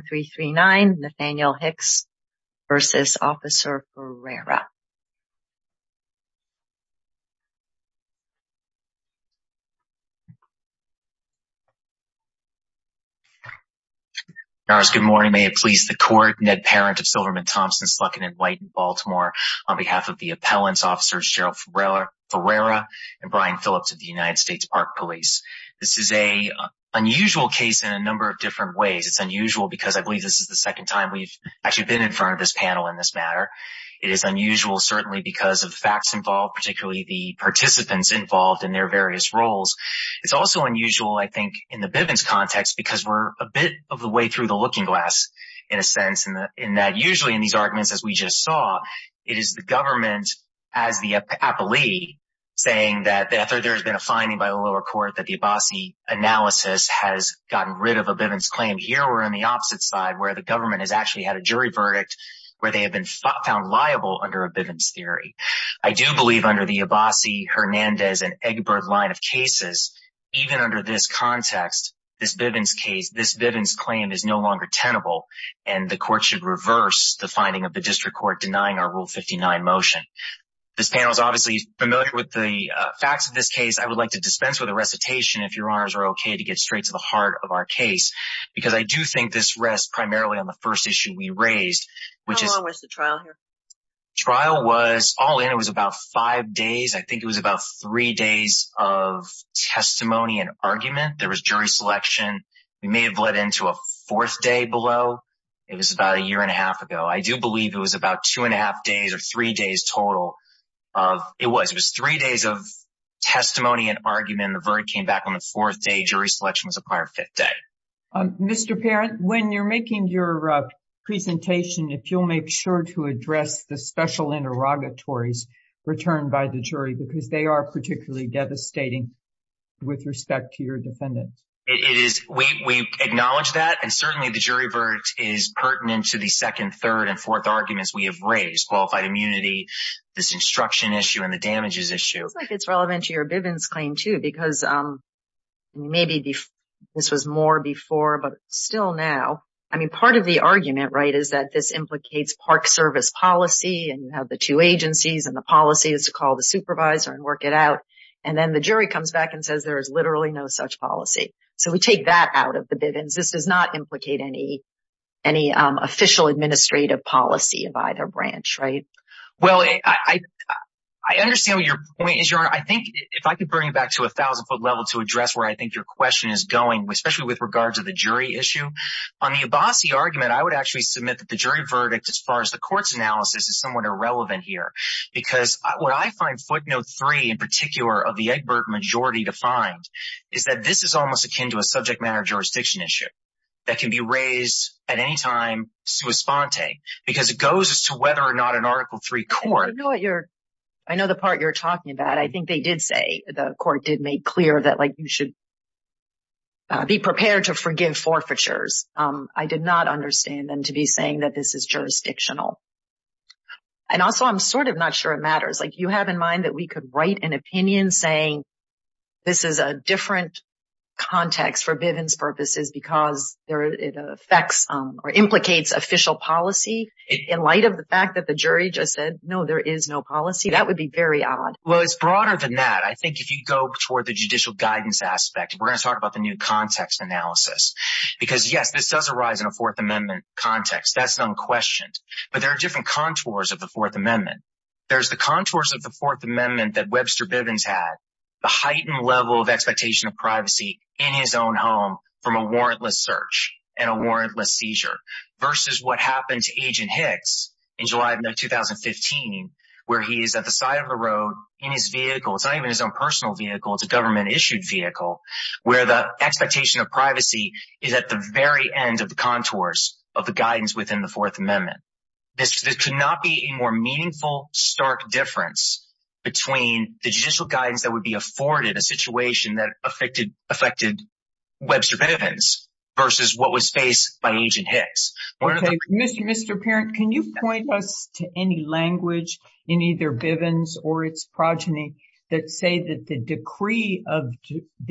Good morning, may it please the court. Ned Parent of Silverman Thompson, Slucken and White in Baltimore on behalf of the appellants officers Gerald Ferreyra and Brian Phillips of the United States Park Police. This is an unusual case in a number of different ways. It's unusual because I believe this is the second time we've actually been in front of this panel in this matter. It is unusual certainly because of facts involved, particularly the participants involved in their various roles. It's also unusual I think in the Bivens context because we're a bit of the way through the looking glass in a sense in that usually in these arguments as we just saw, it is the government as the appellee saying that there's been a finding by the lower court that the Abbasi analysis has gotten rid of a Bivens claim. Here we're on the opposite side where the government has actually had a jury verdict where they have been found liable under a Bivens theory. I do believe under the Abbasi, Hernandez, and Egbert line of cases, even under this context, this Bivens case, this Bivens claim is no longer tenable and the court should reverse the finding of the district court denying our Rule 59 motion. This panel is obviously familiar with the facts of this case. I would like to dispense with a recitation if your honors are okay to get straight to the heart of our case because I do think this rests primarily on the first issue we raised. How long was the trial here? The trial was all in. It was about five days. I think it was about three days of testimony and argument. There was jury selection. We may have let into a fourth day below. It was about a year and a half ago. I do believe it was about two and a half days or three days total. It was three days of testimony and argument. The verdict came back on the fourth day. Jury selection was a prior fifth day. Mr. Parent, when you're making your presentation, if you'll make sure to address the special interrogatories returned by the jury because they are particularly devastating with respect to your defendant. We acknowledge that and certainly the jury is pertinent to the second, third, and fourth arguments we have raised. Qualified immunity, this instruction issue, and the damages issue. I think it's relevant to your Bivens claim too because maybe this was more before but still now. I mean part of the argument is that this implicates park service policy and you have the two agencies and the policy is to call the supervisor and work it out and then the jury comes back and says there is literally no such policy. So we take that out of the Bivens. This does not implicate any official administrative policy of either branch, right? Well, I understand what your point is, Your Honor. I think if I could bring it back to a thousand foot level to address where I think your question is going, especially with regards to the jury issue. On the Abbasi argument, I would actually submit that the jury verdict as far as the court's analysis is somewhat irrelevant here because what I find footnote three in particular of the Egbert majority defined is that this is almost akin to a subject matter jurisdiction issue that can be raised at any time sui sponte because it goes as to whether or not an article three court. I know what you're, I know the part you're talking about. I think they did say, the court did make clear that like you should be prepared to forgive forfeitures. I did not understand them to be saying that this is jurisdictional. And also I'm sort of not sure it matters. Like you have in mind that we could write an opinion saying this is a different context for Bivens purposes because it affects or implicates official policy in light of the fact that the jury just said, no, there is no policy. That would be very odd. Well, it's broader than that. I think if you go toward the judicial guidance aspect, we're going to talk about the new context analysis because yes, this does arise in a fourth amendment context. That's unquestioned, but there are different contours of the fourth amendment that Webster Bivens had the heightened level of expectation of privacy in his own home from a warrantless search and a warrantless seizure versus what happened to agent Hicks in July of 2015, where he is at the side of the road in his vehicle. It's not even his own personal vehicle. It's a government issued vehicle where the expectation of privacy is at the very end of the contours of the guidance within the fourth amendment. This could not be a more meaningful stark difference between the judicial guidance that would be afforded in a situation that affected Webster Bivens versus what was faced by agent Hicks. Okay. Mr. Parent, can you point us to any language in either Bivens or its progeny that say that the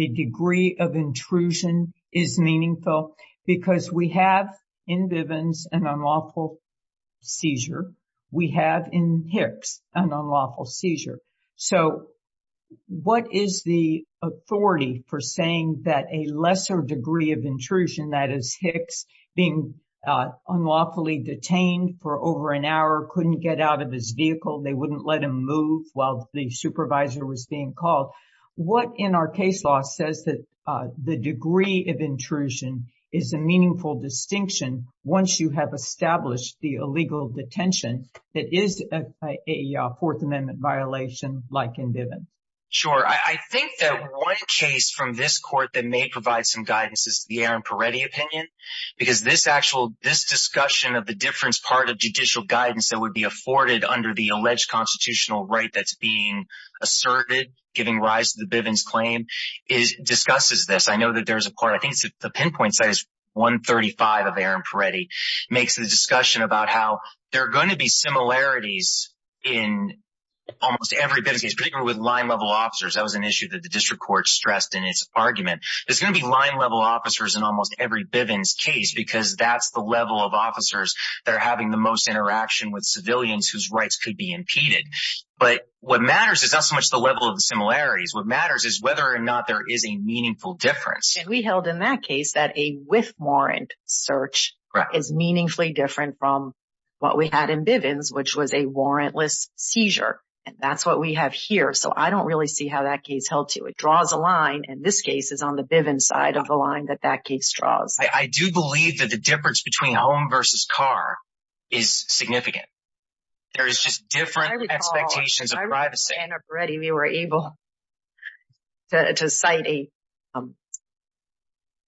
degree of intrusion is meaningful because we have in Bivens an unlawful seizure. We have in Hicks an unlawful seizure. What is the authority for saying that a lesser degree of intrusion, that is Hicks being unlawfully detained for over an hour, couldn't get out of his vehicle, they wouldn't let him move while the supervisor was being called. What in our case law says that the degree of intrusion is a meaningful distinction once you have established the illegal detention that is a fourth amendment violation like in Bivens. Sure. I think that one case from this court that may provide some guidance is the Aaron Peretti opinion because this actual, this discussion of the difference part of judicial guidance that would be afforded under the alleged constitutional right that's being asserted, giving rise to the Bivens claim, discusses this. I know that there's a part, I think the pinpoint site is 135 of Aaron Peretti, makes the discussion about how there are going to be similarities in almost every Bivens case, particularly with line-level officers. That was an issue that the district court stressed in its argument. There's going to be line-level officers in almost every Bivens case because that's the level of officers that are having the interaction with civilians whose rights could be impeded. But what matters is not so much the level of the similarities. What matters is whether or not there is a meaningful difference. And we held in that case that a with-warrant search is meaningfully different from what we had in Bivens, which was a warrantless seizure. And that's what we have here. So I don't really see how that case held to. It draws a line, and this case is on the Bivens side of the line that that case draws. I do believe that the difference between home versus car is significant. There is just different expectations of privacy. Aaron Peretti, we were able to cite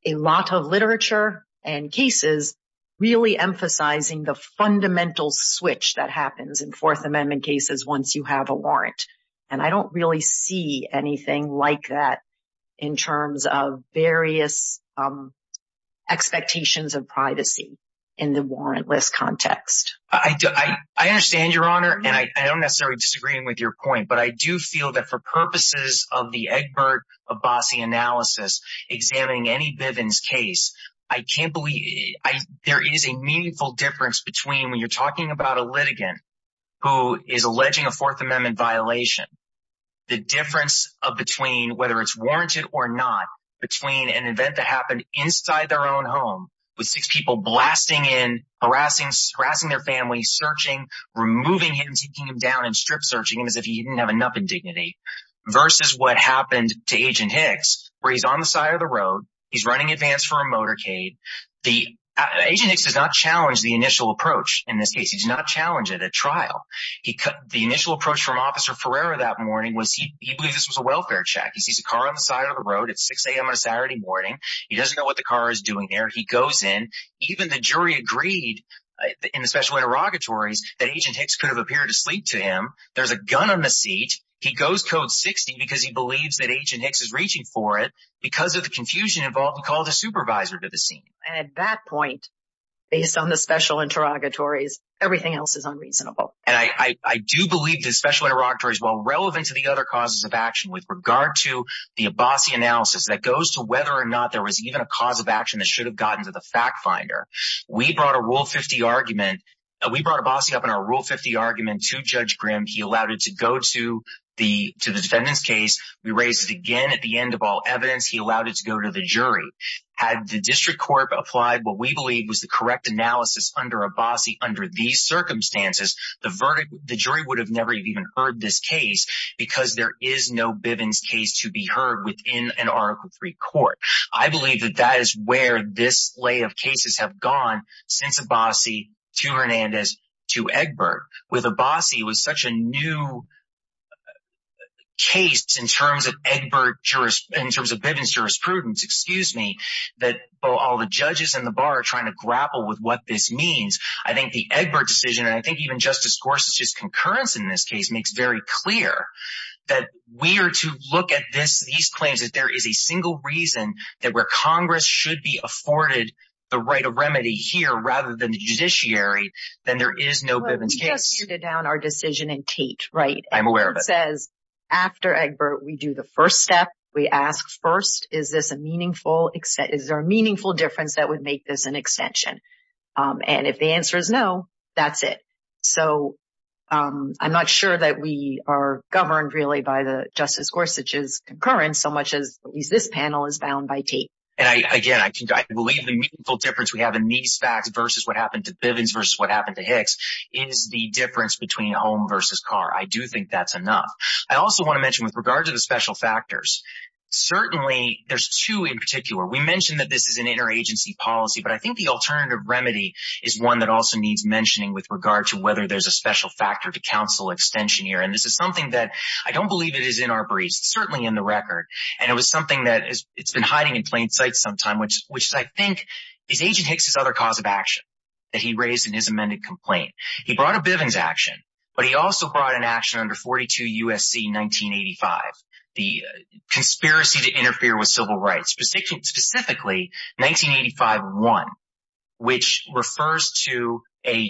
a lot of literature and cases really emphasizing the fundamental switch that happens in Fourth Amendment cases once you have a warrant. I don't really see anything like that in terms of various expectations of privacy in the warrantless context. I understand, Your Honor, and I don't necessarily disagree with your point. But I do feel that for purposes of the Egbert-Abbasi analysis examining any Bivens case, I can't believe there is a meaningful difference between when you're talking about a litigant who is alleging a Fourth Amendment violation, the difference between whether it's warranted or not, between an event that happened inside their own home with six people blasting in, harassing their family, searching, removing him, taking him down, and strip searching him as if he didn't have enough indignity, versus what happened to Agent Hicks where he's on the side of the road, he's running advance for a motorcade. Agent Hicks does not challenge the initial approach in this case. He does not challenge it at trial. The initial approach from Officer Ferreira that morning was he believed this was a welfare check. He sees a car on the side of the road. It's 6 a.m. on a Saturday morning. He doesn't know what the car is doing there. He goes in. Even the jury agreed in the special interrogatories that Agent Hicks could have appeared asleep to him. There's a gun on the seat. He goes Code 60 because he believes that Agent Hicks is reaching for it because of the confusion involved. He called a supervisor to the scene. And at that point, based on the special interrogatories, everything else is unreasonable. And I do believe the special interrogatories while relevant to the other causes of action with regard to the Abbasi analysis that goes to whether or not there was even a cause of action that should have gotten to the fact finder. We brought a Rule 50 argument. We brought Abbasi up in our Rule 50 argument to Judge Grimm. He allowed it to go to the defendant's case. We raised it again at the end of all evidence. He allowed it to go to the jury. Had the district court applied what we believe was the correct analysis under Abbasi under these circumstances, the jury would have never even heard this case because there is no Bivens case to be heard within an Article III court. I believe that that is where this lay of cases have gone since Abbasi to Hernandez to Egbert. With Abbasi, it was such a new case in terms of Egbert, in terms of Bivens jurisprudence, excuse me, that all the judges in the bar are trying to grapple with what this means. I think the Egbert decision and I think even Justice Gorsuch's concurrence in this case makes very clear that we are to look at these claims that there is a single reason that where Congress should be afforded the right of remedy here rather than the judiciary, then there is no Bivens case. We just handed down our decision in after Egbert. We do the first step. We ask first, is there a meaningful difference that would make this an extension? And if the answer is no, that's it. So I'm not sure that we are governed really by the Justice Gorsuch's concurrence so much as at least this panel is bound by tape. And again, I believe the meaningful difference we have in these facts versus what happened to Bivens versus what happened to Hicks is the difference between home versus car. I do think that's enough. I also want to mention with regard to the special factors, certainly there's two in particular. We mentioned that this is an interagency policy, but I think the alternative remedy is one that also needs mentioning with regard to whether there's a special factor to counsel extension here. And this is something that I don't believe it is in our briefs. It's certainly in the record. And it was something that it's been hiding in plain sight sometime, which I think is Agent Hicks' other cause of action that he raised in his amended complaint. He brought a Bivens action, but he also brought an action under 42 U.S.C. 1985, the conspiracy to interfere with civil rights, specifically 1985-1, which refers to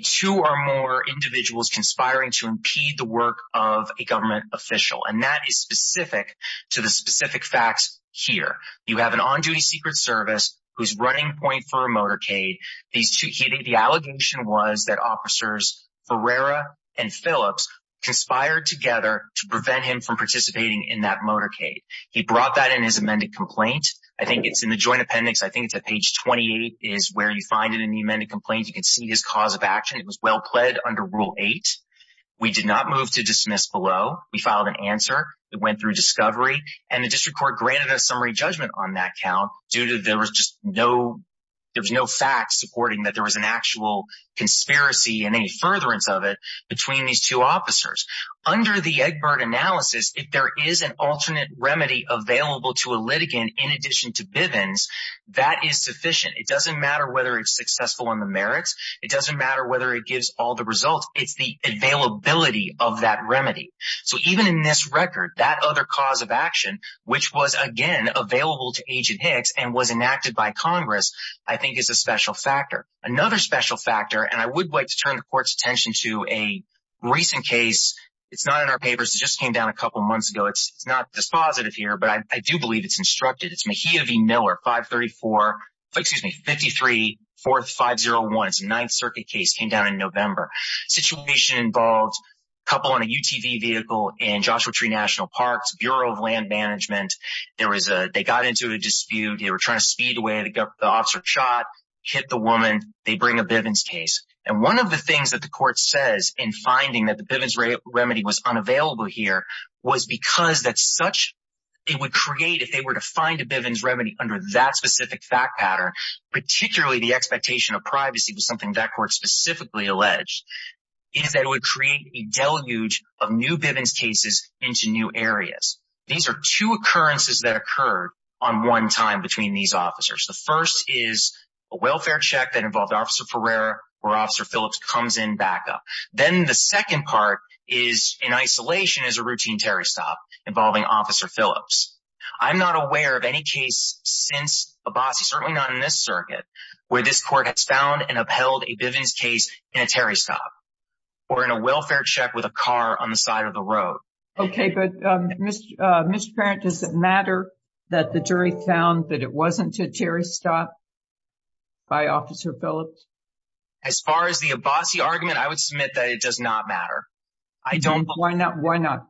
two or more individuals conspiring to impede the work of a government official. And that is specific to the specific facts here. You have an on-duty Secret Service who's running point for a motorcade. The allegation was that Officers Ferreira and Phillips conspired together to prevent him from participating in that motorcade. He brought that in his amended complaint. I think it's in the joint appendix. I think it's at page 28 is where you find it in the amended complaint. You can see his cause of action. It was well-pled under Rule 8. We did not move to dismiss below. We filed an answer that went through discovery, and the district court granted a summary judgment on that count due to there was just no fact supporting that there was an actual conspiracy and any furtherance of it between these two officers. Under the Egbert analysis, if there is an alternate remedy available to a litigant in addition to Bivens, that is sufficient. It doesn't matter whether it's successful on the merits. It doesn't matter whether it gives all the results. It's the availability of that remedy. So even in this record, that other cause of action, which was again available to Agent Hicks and was enacted by Congress, I think is a special factor. Another special factor, and I would like to turn the court's attention to a recent case. It's not in our papers. It just came down a couple of months ago. It's not dispositive here, but I do believe it's instructed. It's Mejia v. Miller, 53-4501. It's a Ninth Circuit case. It came down in November. The situation involved a couple on a UTV vehicle in Joshua Tree National Park's Bureau of Land Management. They got into a dispute. They were trying to speed away. The officer shot, hit the woman. They bring a Bivens case. And one of the things that the court says in finding that the Bivens remedy was unavailable here was because it would create, if they were to find a Bivens remedy under that specific fact pattern, particularly the expectation of privacy was something that court specifically alleged, is that it would create a deluge of new Bivens into new areas. These are two occurrences that occurred on one time between these officers. The first is a welfare check that involved Officer Pereira, where Officer Phillips comes in backup. Then the second part is, in isolation, is a routine Terry stop involving Officer Phillips. I'm not aware of any case since Abbasi, certainly not in this circuit, where this court has found and upheld a Bivens case in a Terry stop or in a welfare check with a car on the side of the road. Okay, but Mr. Parent, does it matter that the jury found that it wasn't a Terry stop by Officer Phillips? As far as the Abbasi argument, I would submit that it does not matter. I don't. Why not? Why not?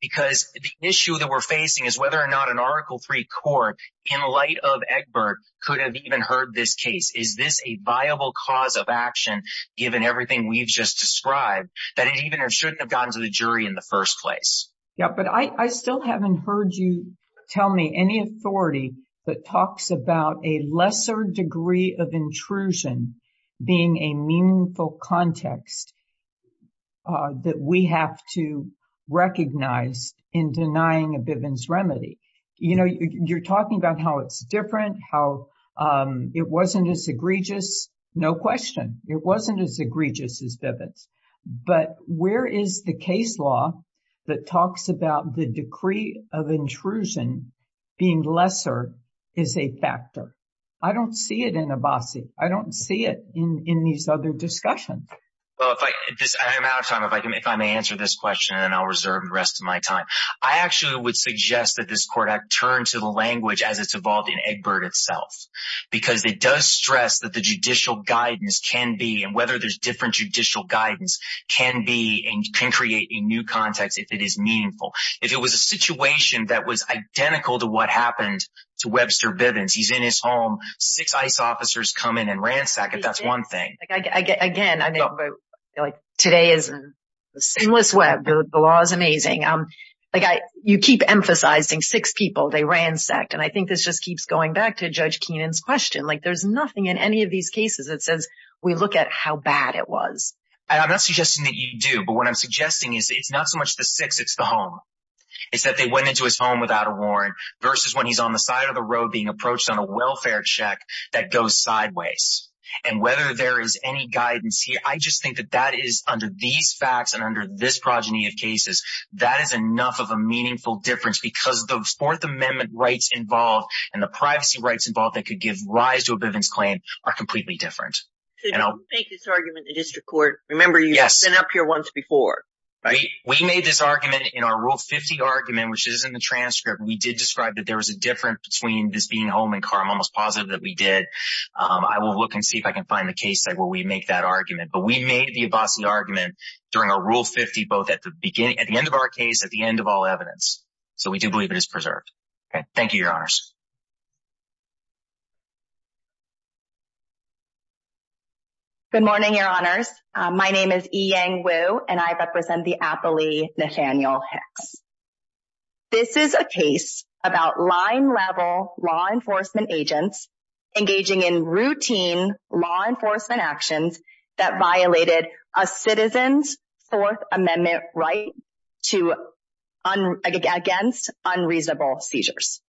Because the issue that we're facing is whether or not an article three court, in light of Egbert, could have even heard this case. Is this a viable cause of action, given everything we've just described, that it even shouldn't have gotten to the jury in the first place? Yeah, but I still haven't heard you tell me any authority that talks about a lesser degree of intrusion being a meaningful context that we have to recognize in denying a Bivens remedy. You're talking about how it's different, how it wasn't as egregious. No that talks about the decree of intrusion being lesser is a factor. I don't see it in Abbasi. I don't see it in these other discussions. Well, I'm out of time. If I may answer this question, then I'll reserve the rest of my time. I actually would suggest that this court act turn to the language as it's evolved in Egbert itself, because it does stress that the judicial guidance can be, whether there's different judicial guidance, can create a new context if it is meaningful. If it was a situation that was identical to what happened to Webster Bivens, he's in his home, six ICE officers come in and ransack it. That's one thing. Again, today is a seamless web. The law is amazing. You keep emphasizing six people, they ransacked. I think this just keeps going back to Judge Keenan's question. There's nothing in any of these cases that says we look at how bad it was. I'm not suggesting that you do. But what I'm suggesting is it's not so much the six, it's the home. It's that they went into his home without a warrant versus when he's on the side of the road being approached on a welfare check that goes sideways. And whether there is any guidance here, I just think that that is under these facts and under this progeny of cases, that is enough of a meaningful difference because the amendment rights involved and the privacy rights involved that could give rise to a Bivens claim are completely different. Don't make this argument in district court. Remember, you've been up here once before. We made this argument in our Rule 50 argument, which is in the transcript. We did describe that there was a difference between this being home and car. I'm almost positive that we did. I will look and see if I can find the case where we make that argument. But we made the Abbasi argument during our Rule 50, both at the beginning, at the end of our case, at the end of all evidence. So we do believe it is preserved. Thank you, Your Honors. Good morning, Your Honors. My name is Yiyang Wu, and I represent the Appley Nathaniel Hicks. This is a case about line-level law enforcement agents engaging in routine law enforcement actions that violated a citizen's Fourth Amendment right against unreasonable seizures.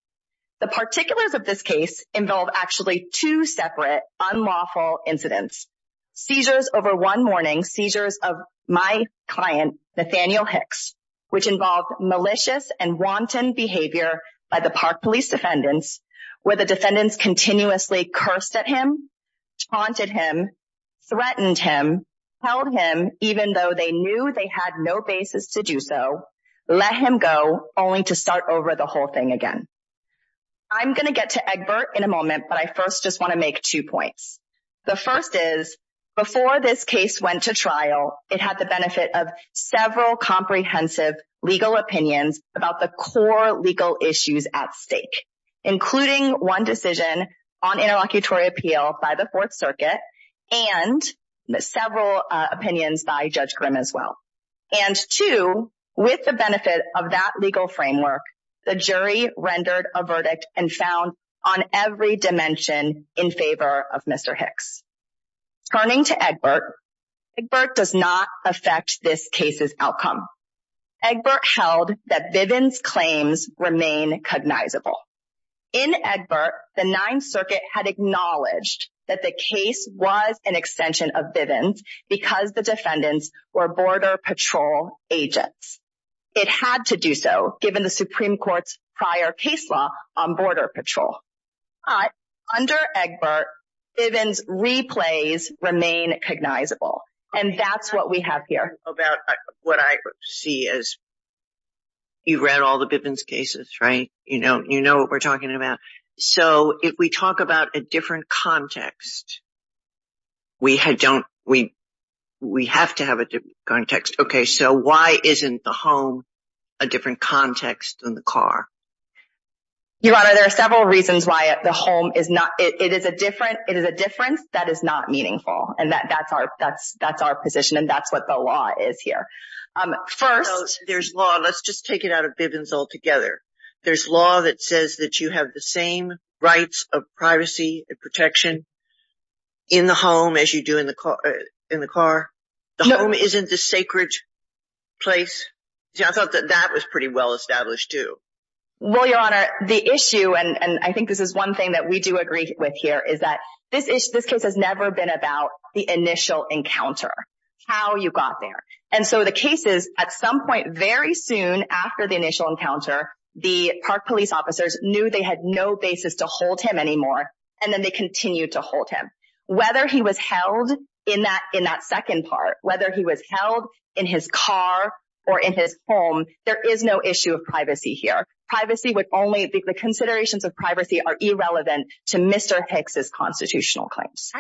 The particulars of this case involve actually two separate unlawful incidents. Seizures over one morning, seizures of my client, Nathaniel Hicks, which involved malicious and wanton behavior by the Park Police defendants, where the defendants continuously cursed at him, taunted him, threatened him, held him, even though they knew they had no basis to do so, let him go, only to start over the whole thing again. I'm going to get to Egbert in a moment, but I first just want to make two points. The first is, before this case went to trial, it had the benefit of several comprehensive legal opinions about the core legal issues at stake, including one decision on interlocutory appeal by the Fourth Circuit and several opinions by Judge Grimm as well. And two, with the benefit of that legal framework, the jury rendered a verdict and found on every dimension in favor of Mr. Hicks. Turning to Egbert, Egbert does not affect this case's outcome. Egbert held that Bivens' claims remain cognizable. In Egbert, the Ninth Circuit had acknowledged that the case was an extension of Bivens' because the defendants were Border Patrol agents. It had to do so, given the Supreme Court's prior case law on Border Patrol. But under Egbert, Bivens' replays remain cognizable. And that's what we have here. About what I see is, you've read all the Bivens' cases, right? You know what we're talking about. So if we talk about a different context, we have to have a different context. Okay, so why isn't the home a different context than the car? Your Honor, there are several reasons why the home is not—it is a difference that is not here. First— There's law. Let's just take it out of Bivens' all together. There's law that says that you have the same rights of privacy and protection in the home as you do in the car. The home isn't the sacred place. I thought that that was pretty well established too. Well, Your Honor, the issue, and I think this is one thing that we do agree with here, is that this case has never been about the initial encounter, how you got there. And so the case is, at some point very soon after the initial encounter, the Park Police officers knew they had no basis to hold him anymore, and then they continued to hold him. Whether he was held in that second part, whether he was held in his car or in his home, there is no issue of privacy here. Privacy would only—the considerations of privacy are irrelevant to Mr. Hicks' constitutional claims.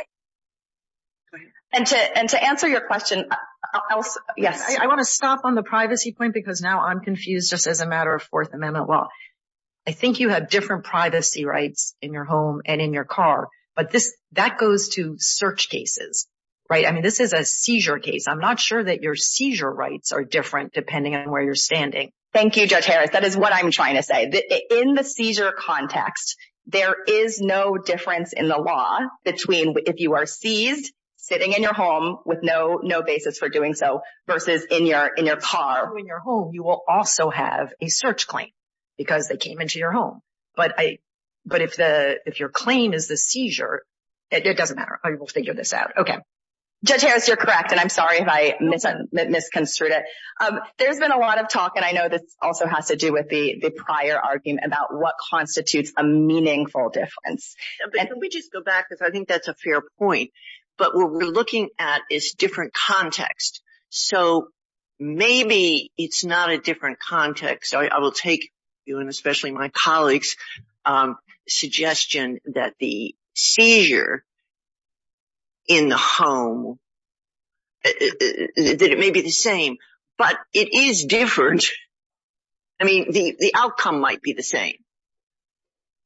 And to answer your question, I want to stop on the privacy point because now I'm confused just as a matter of Fourth Amendment law. I think you have different privacy rights in your home and in your car, but that goes to search cases, right? I mean, this is a seizure case. I'm not sure that your seizure rights are different depending on where you're standing. Thank you, Judge Harris. That is what I'm trying to say. In the seizure context, there is no difference in the law between if you are seized, sitting in your home with no basis for doing so versus in your car. If you're in your home, you will also have a search claim because they came into your home. But if your claim is the seizure, it doesn't matter. We'll figure this out. Okay. Judge Harris, you're correct, and I'm sorry if I misconstrued it. There's been a lot of talk, and I know this also has to do with the prior argument about what constitutes a meaningful difference. Let me just go back because I think that's a fair point. But what we're looking at is different context. So maybe it's not a different context. I will take you and especially my colleagues' suggestion that the seizure in the home, that it may be the same, but it is different. I mean, the outcome might be the same,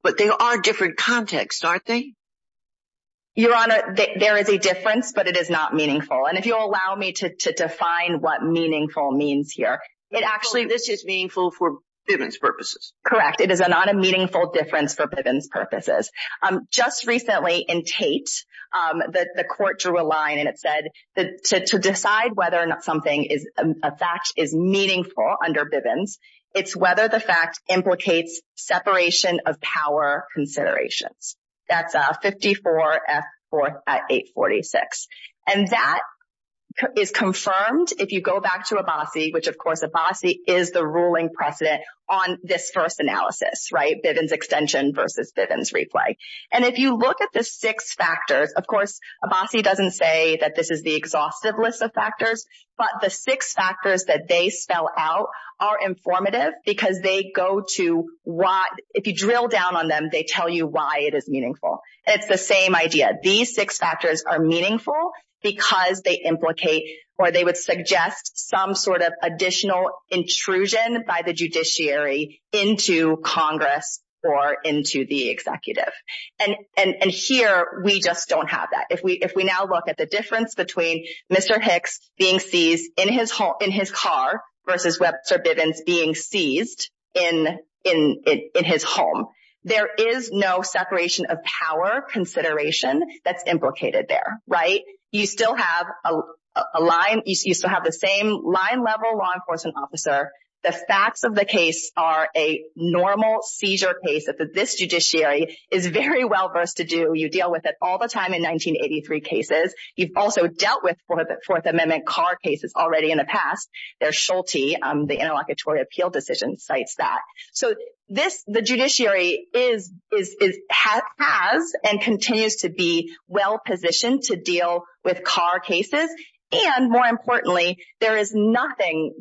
but they are different contexts, aren't they? Your Honor, there is a difference, but it is not meaningful. And if you'll allow me to define what meaningful means here, it actually is meaningful for Bivens purposes. Correct. It is not a meaningful difference for Bivens purposes. Just recently in Tate, the court drew a line, to decide whether or not something is a fact is meaningful under Bivens. It's whether the fact implicates separation of power considerations. That's 54 F. 4th at 846. And that is confirmed if you go back to Abbasi, which of course Abbasi is the ruling precedent on this first analysis, right? Bivens extension versus Bivens replay. And if you look at the six factors, of course, Abbasi doesn't say that this is the exhaustive list of factors, but the six factors that they spell out are informative because if you drill down on them, they tell you why it is meaningful. It's the same idea. These six factors are meaningful because they implicate or they would suggest some sort of additional intrusion by the judiciary into Congress or into the executive. And here, we just don't have that. If we now look at the difference between Mr. Hicks being seized in his home, in his car versus Webster Bivens being seized in his home, there is no separation of power consideration that's implicated there, right? You still have a line. You still have the same line level law enforcement officer. The facts of the case are a normal seizure case that this judiciary is very well-versed to do. You deal with it all the time in 1983 cases. You've also dealt with Fourth Amendment car cases already in the past. There's Schulte, the Interlocutory Appeal Decision, cites that. So the judiciary has and continues to be well positioned to deal with car cases. And more importantly, there is nothing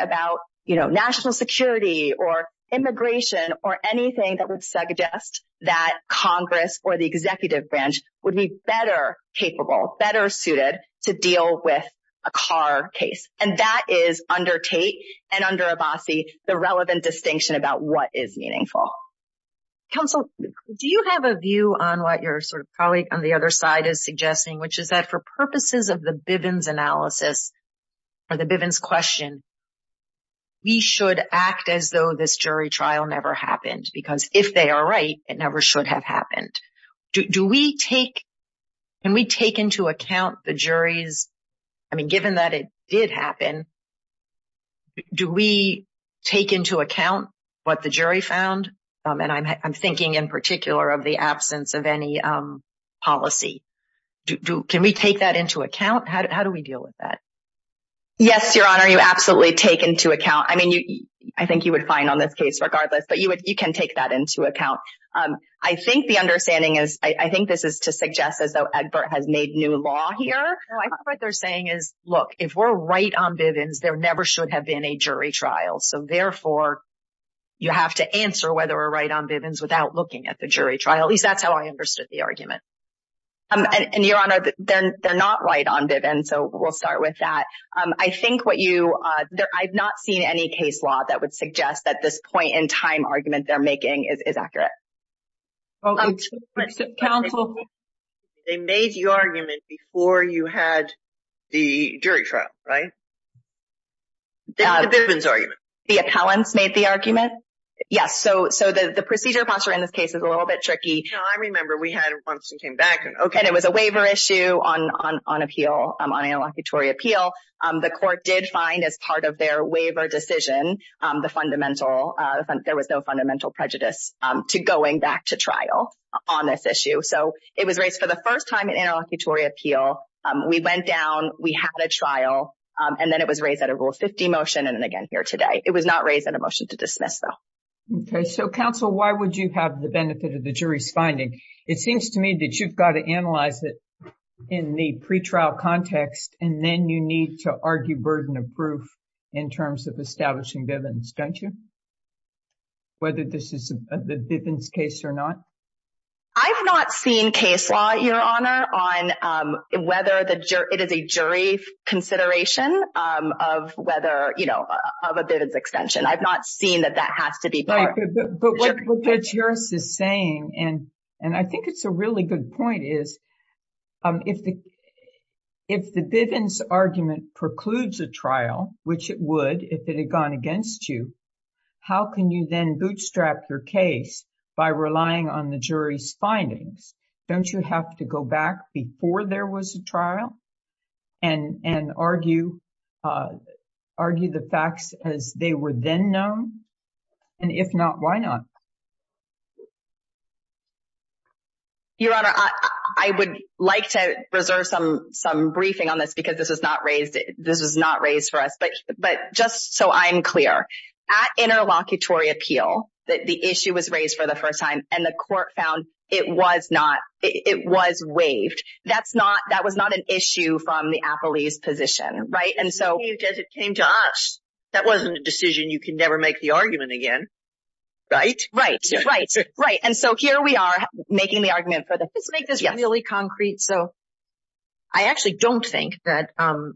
about national security or immigration or anything that would suggest that Congress or the executive branch would be better capable, better suited to deal with a car case. And that is under Tate and under Abbasi, the relevant distinction about what is meaningful. Counsel, do you have a view on what your sort of colleague on the other side is suggesting, which is that for purposes of the Bivens analysis or the Bivens question, we should act as though this jury trial never happened? Because if they are right, it never should have happened. Can we take into account the jury's, I mean, given that it did happen, do we take into account what the jury found? And I'm thinking in particular of the can we take that into account? How do we deal with that? Yes, Your Honor, you absolutely take into account. I mean, I think you would find on this case regardless, but you can take that into account. I think the understanding is, I think this is to suggest as though Egbert has made new law here. No, I think what they're saying is, look, if we're right on Bivens, there never should have been a jury trial. So therefore, you have to answer whether we're right on Bivens without looking at the jury trial. At least that's how I understood the argument. And Your Honor, then they're not right on Bivens. So we'll start with that. I think what you, I've not seen any case law that would suggest that this point in time argument they're making is accurate. They made the argument before you had the jury trial, right? The Bivens argument. The appellants made the argument. Yes. So the procedure posture in this case is a little bit tricky. No, I remember we had once we came back. And it was a waiver issue on appeal, on interlocutory appeal. The court did find as part of their waiver decision, the fundamental, there was no fundamental prejudice to going back to trial on this issue. So it was raised for the first time in interlocutory appeal. We went down, we had a trial, and then it was raised at a Rule 50 motion and again here today. It was not raised in a Why would you have the benefit of the jury's finding? It seems to me that you've got to analyze it in the pretrial context, and then you need to argue burden of proof in terms of establishing Bivens, don't you? Whether this is the Bivens case or not. I've not seen case law, Your Honor, on whether it is a jury consideration of whether, you know, of a Bivens extension. I've not seen that that has to be. But what the jurist is saying, and I think it's a really good point, is if the Bivens argument precludes a trial, which it would if it had gone against you, how can you then bootstrap your case by relying on the jury's findings? Don't you have to go back before there was a trial and argue the facts as they were then known? And if not, why not? Your Honor, I would like to reserve some briefing on this because this was not raised for us. But just so I'm clear, at interlocutory appeal that the issue was raised for the first time and the court found it was not, it was waived. That's not, that was not an issue from the appellee's position, right? And so as it came to us, that wasn't a decision you can never make the argument again, right? Right, right, right. And so here we are making the argument for the, let's make this really concrete. So I actually don't think that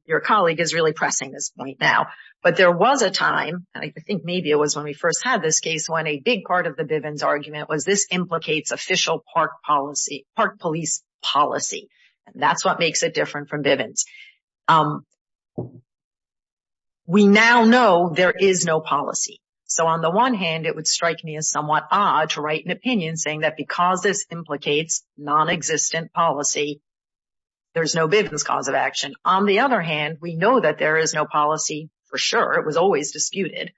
your colleague is really pressing this point now. But there was a time, and I think maybe it was when we first had this case, when a case like this implicates official park policy, park police policy. And that's what makes it different from Bivens. We now know there is no policy. So on the one hand, it would strike me as somewhat odd to write an opinion saying that because this implicates non-existent policy, there's no Bivens cause of action. On the other hand, we know that there is no policy for sure. It was always disputed.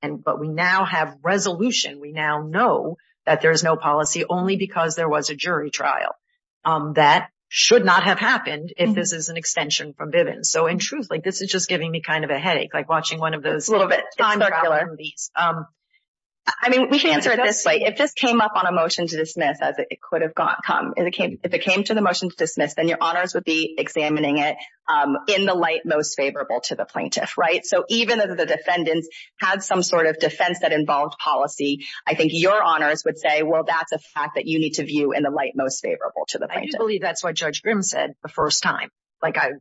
And, but we now have resolution. We now know that there's no policy only because there was a jury trial. That should not have happened if this is an extension from Bivens. So in truth, like this is just giving me kind of a headache, like watching one of those. I mean, we can answer it this way. If this came up on a motion to dismiss as it could have come, if it came to the motion to dismiss, then your honors would be examining it in the light most favorable to the plaintiff. I do believe that's what Judge Grimm said the first time. Like I,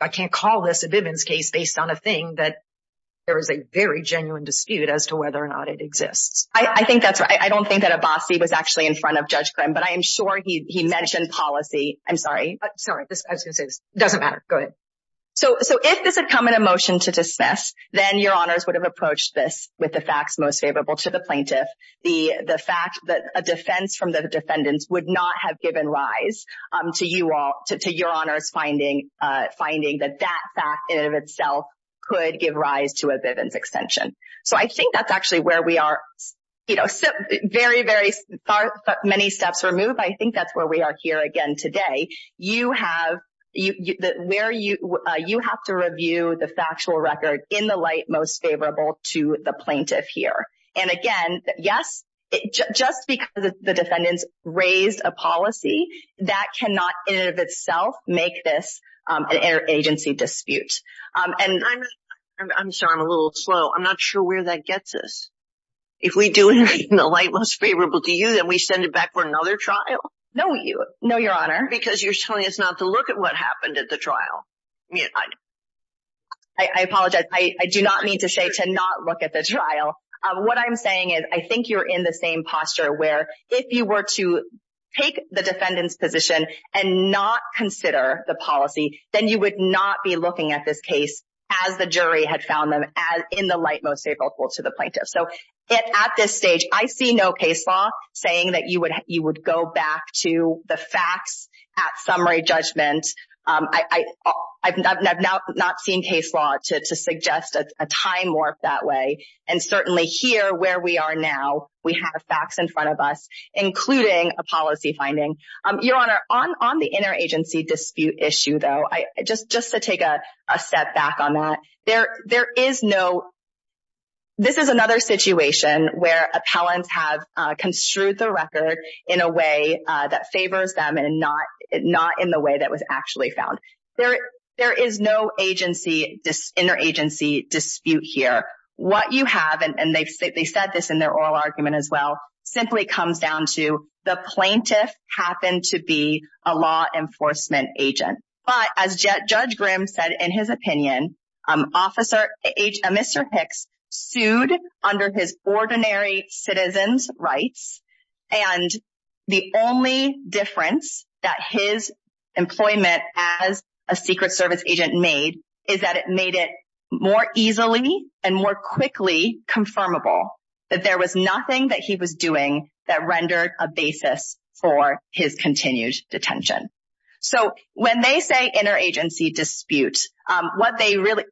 I can't call this a Bivens case based on a thing that there was a very genuine dispute as to whether or not it exists. I think that's right. I don't think that Abbasi was actually in front of Judge Grimm, but I am sure he mentioned policy. I'm sorry. Sorry, I was going to say this. It doesn't matter. Go ahead. So, so if this had come in a motion to dismiss, then your honors would have approached this with the facts most favorable to the plaintiff. The, the fact that a defense from the defendants would not have given rise to you all, to your honors finding, finding that that fact in and of itself could give rise to a Bivens extension. So I think that's actually where we are, you know, very, very far, many steps removed. I think that's where we are here again today. You have, where you, you have to review the factual record in the light most favorable to the plaintiff here. And again, yes, just because the defendants raised a policy that cannot in and of itself make this an inter-agency dispute. I'm sorry, I'm a little slow. I'm not sure where that gets us. If we do it in the light most favorable to you, then we send it back for another trial? No, you, no, your honor. Because you're telling us not to look at what happened at the trial. I apologize. I do not mean to say to not look at the trial. What I'm saying is I think you're in the same posture where if you were to take the defendant's position and not consider the policy, then you would not be looking at this case as the jury had found them as in the light most favorable to the plaintiff. So at this stage, I see no case law saying that you would, you would go back to the facts at summary judgment. I've not seen case law to suggest a time warp that way. And certainly here where we are now, we have facts in front of us, including a policy finding. Your honor, on the inter-agency dispute issue though, just to take a step back on that, there, there is no, this is another situation where appellants have construed the record in a way that favors them and not, not in the way that was actually found. There, there is no agency, inter-agency dispute here. What you have, and they've said this in their oral argument as well, simply comes down to the plaintiff happened to be a law enforcement agent. But as Judge Grimm said in his opinion, officer, Mr. Hicks sued under his ordinary citizen's rights. And the only difference that his employment as a secret service agent made is that it made it more easily and more quickly confirmable that there was nothing that he was When they say inter-agency dispute, what they really,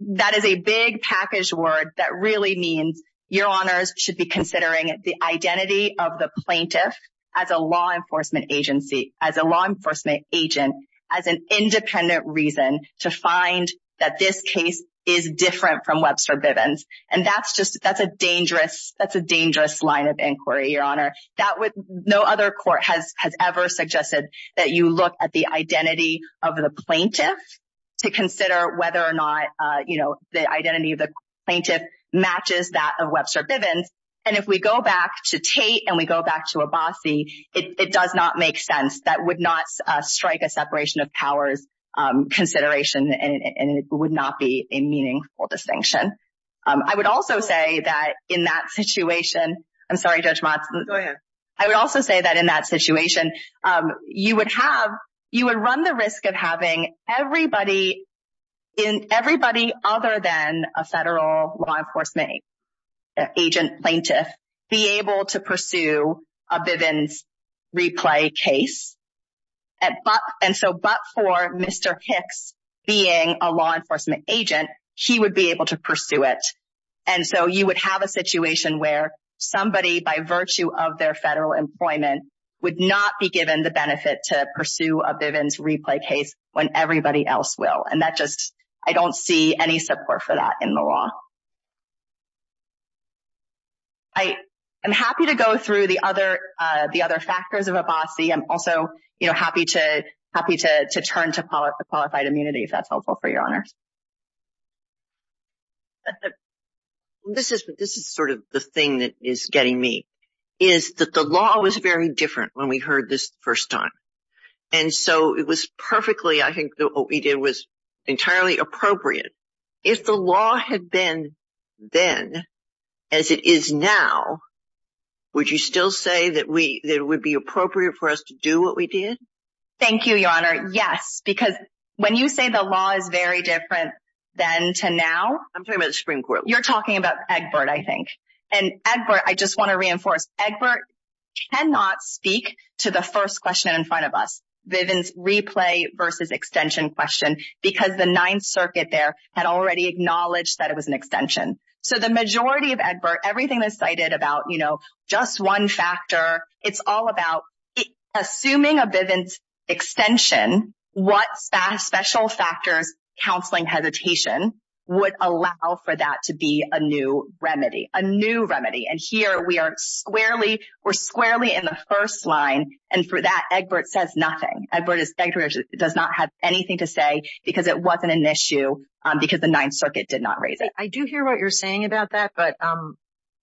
that is a big package word that really means your honors should be considering the identity of the plaintiff as a law enforcement agency, as a law enforcement agent, as an independent reason to find that this case is different from Webster Bivens. And that's just, that's a dangerous, that's a dangerous line of the plaintiff to consider whether or not, you know, the identity of the plaintiff matches that of Webster Bivens. And if we go back to Tate and we go back to Abbasi, it does not make sense. That would not strike a separation of powers consideration, and it would not be a meaningful distinction. I would also say that in that situation, I'm sorry, Judge Motz, I would also say that in that situation, you would have, you would run the risk of having everybody in, everybody other than a federal law enforcement agent plaintiff be able to pursue a Bivens replay case. And so, but for Mr. Hicks being a law enforcement agent, he would be able to pursue it. And so, you would have a situation where somebody, by virtue of their federal employment, would not be given the benefit to pursue a Bivens replay case when everybody else will. And that just, I don't see any support for that in the law. I am happy to go through the other, the other factors of Abbasi. I'm also, you know, happy to, happy to turn to qualified immunity if that's for your honors. This is, this is sort of the thing that is getting me, is that the law was very different when we heard this first time. And so, it was perfectly, I think what we did was entirely appropriate. If the law had been then as it is now, would you still say that we, that it would be appropriate for us to do what we did? Thank you, your honor. Yes, because when you say the law is very different than to now. I'm talking about the Supreme Court. You're talking about Egbert, I think. And Egbert, I just want to reinforce, Egbert cannot speak to the first question in front of us, Bivens replay versus extension question, because the Ninth Circuit there had already acknowledged that it was an extension. So, the majority of Egbert, everything that's cited about, you know, just one factor, it's all about assuming a Bivens extension, what special factors, counseling, hesitation, would allow for that to be a new remedy, a new remedy. And here we are squarely, we're squarely in the first line. And for that, Egbert says nothing. Egbert does not have anything to say because it wasn't an issue because the Ninth Circuit did not raise it. I do hear what you're saying about that. But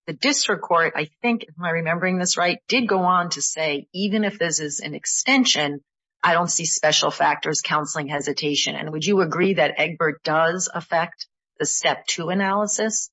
the district court, I think, am I remembering this right, did go on to say, even if this is an extension, I don't see special factors, counseling, hesitation. And would you agree that Egbert does affect the step two analysis?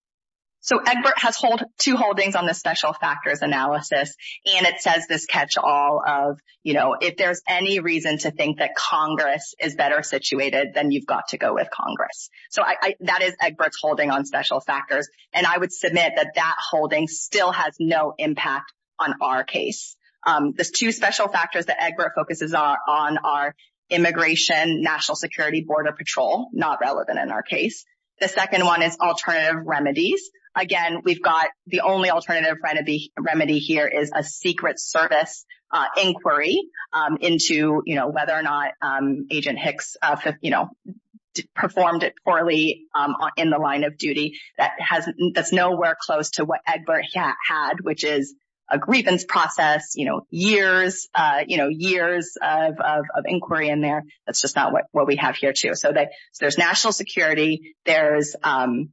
So, Egbert has two holdings on the special factors analysis. And it says this catch all of, you know, if there's any reason to think that Congress is better situated, then you've got to go with Congress. So, that is Egbert's holding on special factors. And I would submit that that holding still has no impact on our case. The two special factors that Egbert focuses on are immigration, national security, border patrol, not relevant in our case. The second one is alternative remedies. Again, we've got the only alternative remedy here is a secret service inquiry into, you know, whether or not Agent Hicks, you know, performed it poorly in the line of duty. That's nowhere close to what Egbert had, which is a grievance process, you know, years, you know, years of inquiry in there. That's just not what we have here, too. So, there's national security, there is the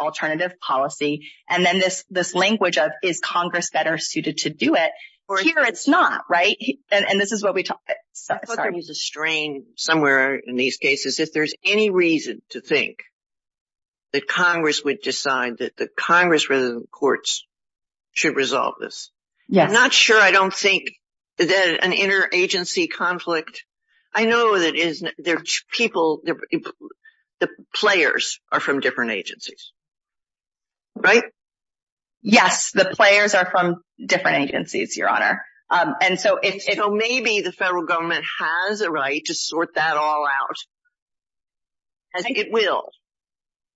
alternative policy. And then this language of, is Congress better suited to do it? Here, it's not, right? And this is what we talk about. I thought there was a strain somewhere in these cases, if there's any reason to think that Congress would decide that the Congress, rather than the courts, should resolve this. I'm not sure. I don't think that an inter-agency conflict. I know that there's people, the players are from different agencies, right? Yes, the players are from different agencies, Your Honor. And so, maybe the federal government has a right to sort that all out. I think it will,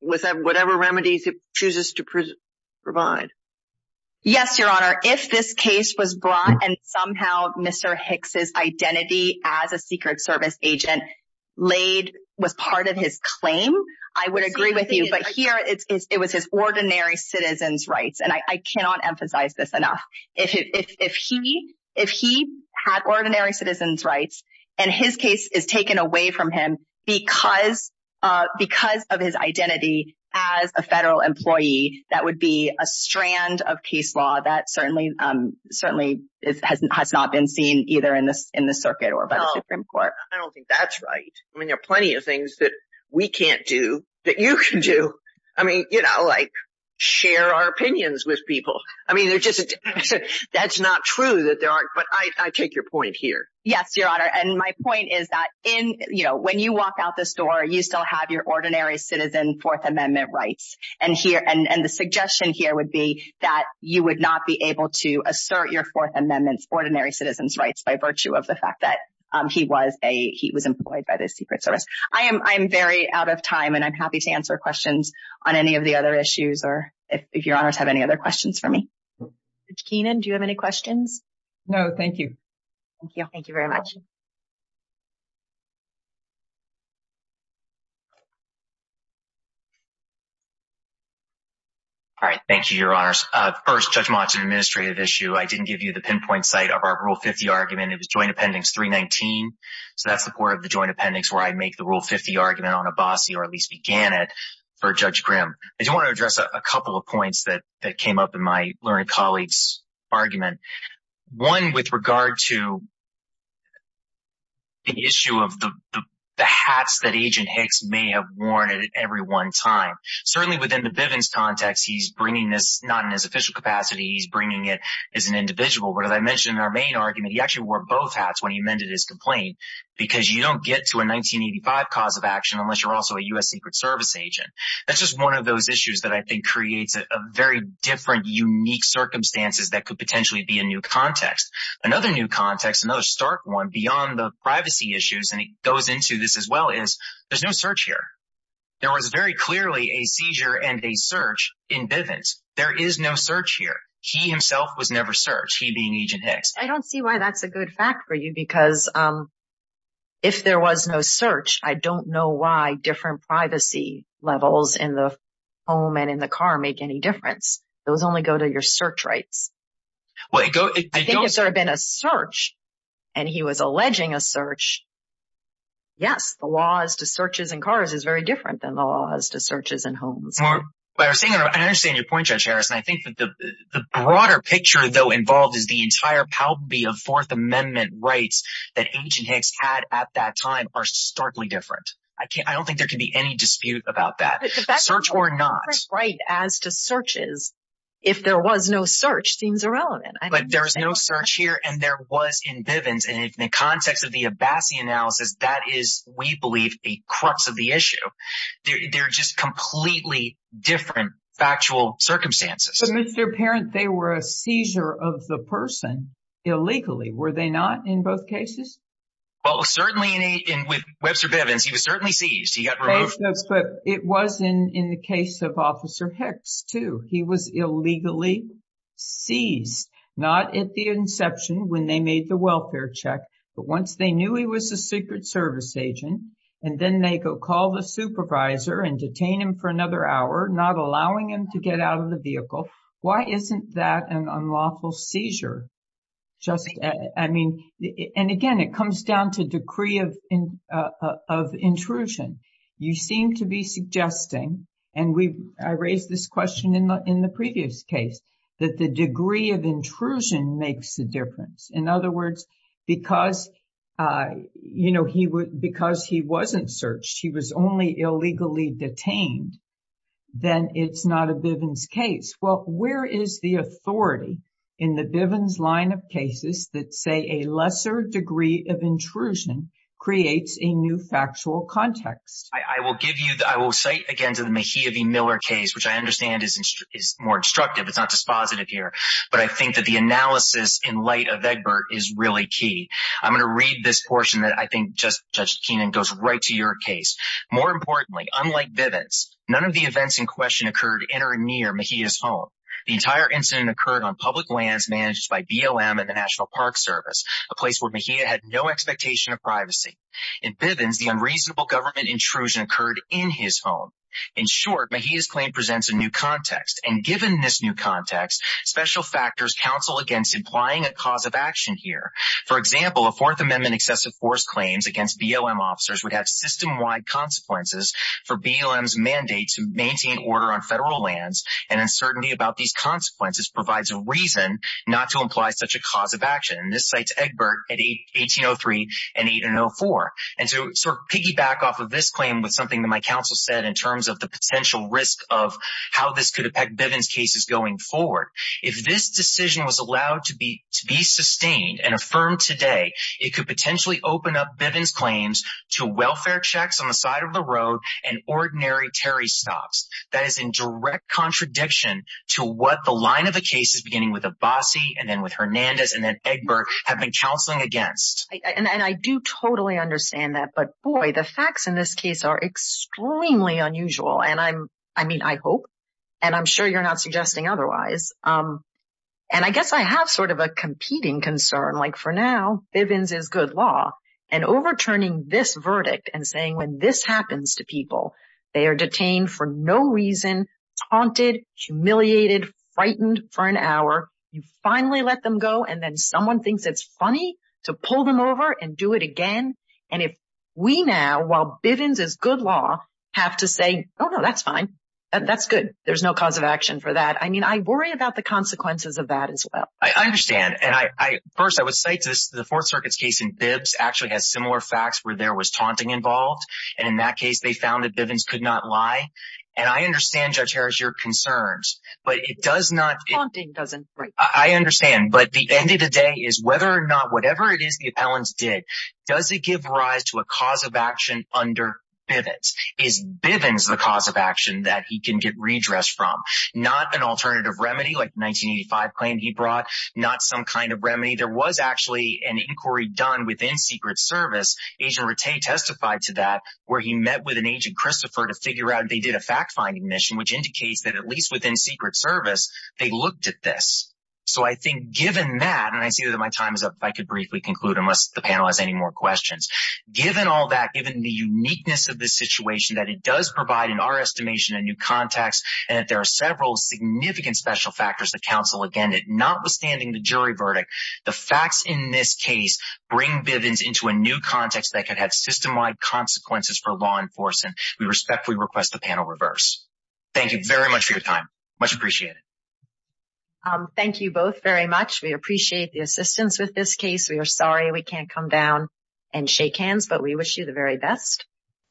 with whatever remedies it chooses to provide. Yes, Your Honor. If this case was brought and somehow Mr. Hicks' identity as a Secret Service agent was part of his claim, I would agree with you. But here, it was his ordinary citizen's rights. And I cannot emphasize this enough. If he had ordinary citizen's rights and his case is taken away from him, because of his identity as a federal employee, that would be a strand of case law that certainly has not been seen either in the circuit or by the Supreme Court. I don't think that's right. I mean, there are plenty of things that we can't do that you can do. I mean, you know, like, share our opinions with people. I mean, that's not true, but I take your point here. Yes, Your Honor. And my point is that, you know, when you walk out this door, you still have your ordinary citizen Fourth Amendment rights. And the suggestion here would be that you would not be able to assert your Fourth Amendment's ordinary citizen's rights by virtue of the fact that he was employed by the Secret Service. I am very out of time, and I'm happy to answer questions on any of the other issues, or if Your Honors have any other questions for me. Judge Keenan, do you have any questions? No, thank you. Thank you. Thank you very much. All right. Thank you, Your Honors. First, Judge Monson, administrative issue. I didn't give you the pinpoint site of our Rule 50 argument. It was Joint Appendix 319. So that's the part of the Joint Appendix where I make the Rule 50 argument on Abbasi, or at least began it, for Judge Grimm. I do want to address a couple of points that came up in my learned colleague's argument. One, with regard to the issue of the hats that Agent Hicks may have worn at every one time. Certainly within the Bivens context, he's bringing this not in his official capacity. He's bringing it as an individual. But as I mentioned in our main argument, he actually wore both hats when he amended his complaint, because you don't get to a 1985 cause of action unless you're also a U.S. Secret Service agent. That's just one of those issues that I think creates a very different, unique circumstances that could potentially be a new context. Another new context, another stark one beyond the privacy issues, and it goes into this as well, is there's no search here. There was very clearly a seizure and a search in Bivens. There is no search here. He himself was never searched, he being Agent Hicks. I don't see why that's a good fact for you, because if there was no search, I don't know why different privacy levels in the home and in the car make any difference. Those only go to your search rights. I think if there had been a search, and he was alleging a search, yes, the laws to searches in cars is very different than the laws to searches in homes. I understand your point, Judge Harris, and I think that the broader picture, though, involved is the entire palby of Fourth Amendment rights that Agent Hicks had at that time are starkly different. I don't think there can be any dispute about that, search or not. The fact that there's a different right as to searches, if there was no search, seems irrelevant. There was no search here, and there was in Bivens, and in the context of the Abassi analysis, that is, we believe, the crux of the issue. They're just completely different factual circumstances. Mr. Parent, they were a seizure of the person illegally, were they not in both cases? Well, certainly, with Webster Bivens, he was certainly seized. He got removed. But it was in the case of Officer Hicks, too. He was illegally seized, not at the inception, when they made the welfare check, but once they knew he was a Secret Service agent, and then they go call the supervisor and detain him for another hour, not allowing him to get out of the vehicle. Why isn't that an unlawful seizure? And again, it comes down to degree of intrusion. You seem to be suggesting, and I raised this question in the previous case, that the degree of intrusion makes a difference. In other words, because he wasn't searched, he was only illegally detained, then it's not a Bivens case. Well, where is the authority in the Bivens line of cases that say a lesser degree of intrusion creates a new factual context? I will cite again to the Mejia v. Miller case, which I understand is more instructive. It's not key. I'm going to read this portion that I think, Judge Keenan, goes right to your case. More importantly, unlike Bivens, none of the events in question occurred in or near Mejia's home. The entire incident occurred on public lands managed by BLM and the National Park Service, a place where Mejia had no expectation of privacy. In Bivens, the unreasonable government intrusion occurred in his home. In short, Mejia's claim presents a new context. And given this new For example, a Fourth Amendment excessive force claims against BLM officers would have system-wide consequences for BLM's mandate to maintain order on federal lands, and uncertainty about these consequences provides a reason not to imply such a cause of action. And this cites Egbert at 1803 and 1804. And to sort of piggyback off of this claim with something that my counsel said in terms of the potential risk of how this could affect Bivens cases going forward. If this decision was allowed to be sustained and affirmed today, it could potentially open up Bivens' claims to welfare checks on the side of the road and ordinary Terry stops. That is in direct contradiction to what the line of the case is beginning with Abbasi and then with Hernandez and then Egbert have been counseling against. And I do totally understand that. But boy, the facts in this case are extremely unusual. And I mean, I hope, and I'm sure you're not And I guess I have sort of a competing concern. Like for now, Bivens is good law and overturning this verdict and saying when this happens to people, they are detained for no reason, haunted, humiliated, frightened for an hour. You finally let them go. And then someone thinks it's funny to pull them over and do it again. And if we now, while Bivens is good law have to say, oh no, that's fine. That's good. There's no cause of action for that. I mean, I worry about the consequences of that as well. I understand. And I, I, first I would say this, the fourth circuit's case in bibs actually has similar facts where there was taunting involved. And in that case, they found that Bivens could not lie. And I understand judge Harris, your concerns, but it does not. I understand. But the end of the day is whether or not, whatever it is, the appellants did, does it give rise to a cause of action under Bivens? Is Bivens the cause of action that he can get redressed from? Not an alternative remedy like 1985 plan he brought, not some kind of remedy. There was actually an inquiry done within secret service. Agent Rattay testified to that where he met with an agent Christopher to figure out if they did a fact finding mission, which indicates that at least within secret service, they looked at this. So I think given that, and I see that my time is up. I could briefly conclude unless the panel has any more questions. Given all that, given the uniqueness of this situation, that it does provide in our estimation, a new context, and that there are several significant special factors that counsel, again, notwithstanding the jury verdict, the facts in this case bring Bivens into a new context that could have system-wide consequences for law enforcement. We respectfully request the panel reverse. Thank you very much for your time. Much appreciated. Thank you both very much. We appreciate the assistance with this case. We are sorry, we can't come down and shake hands, but we wish you the very best.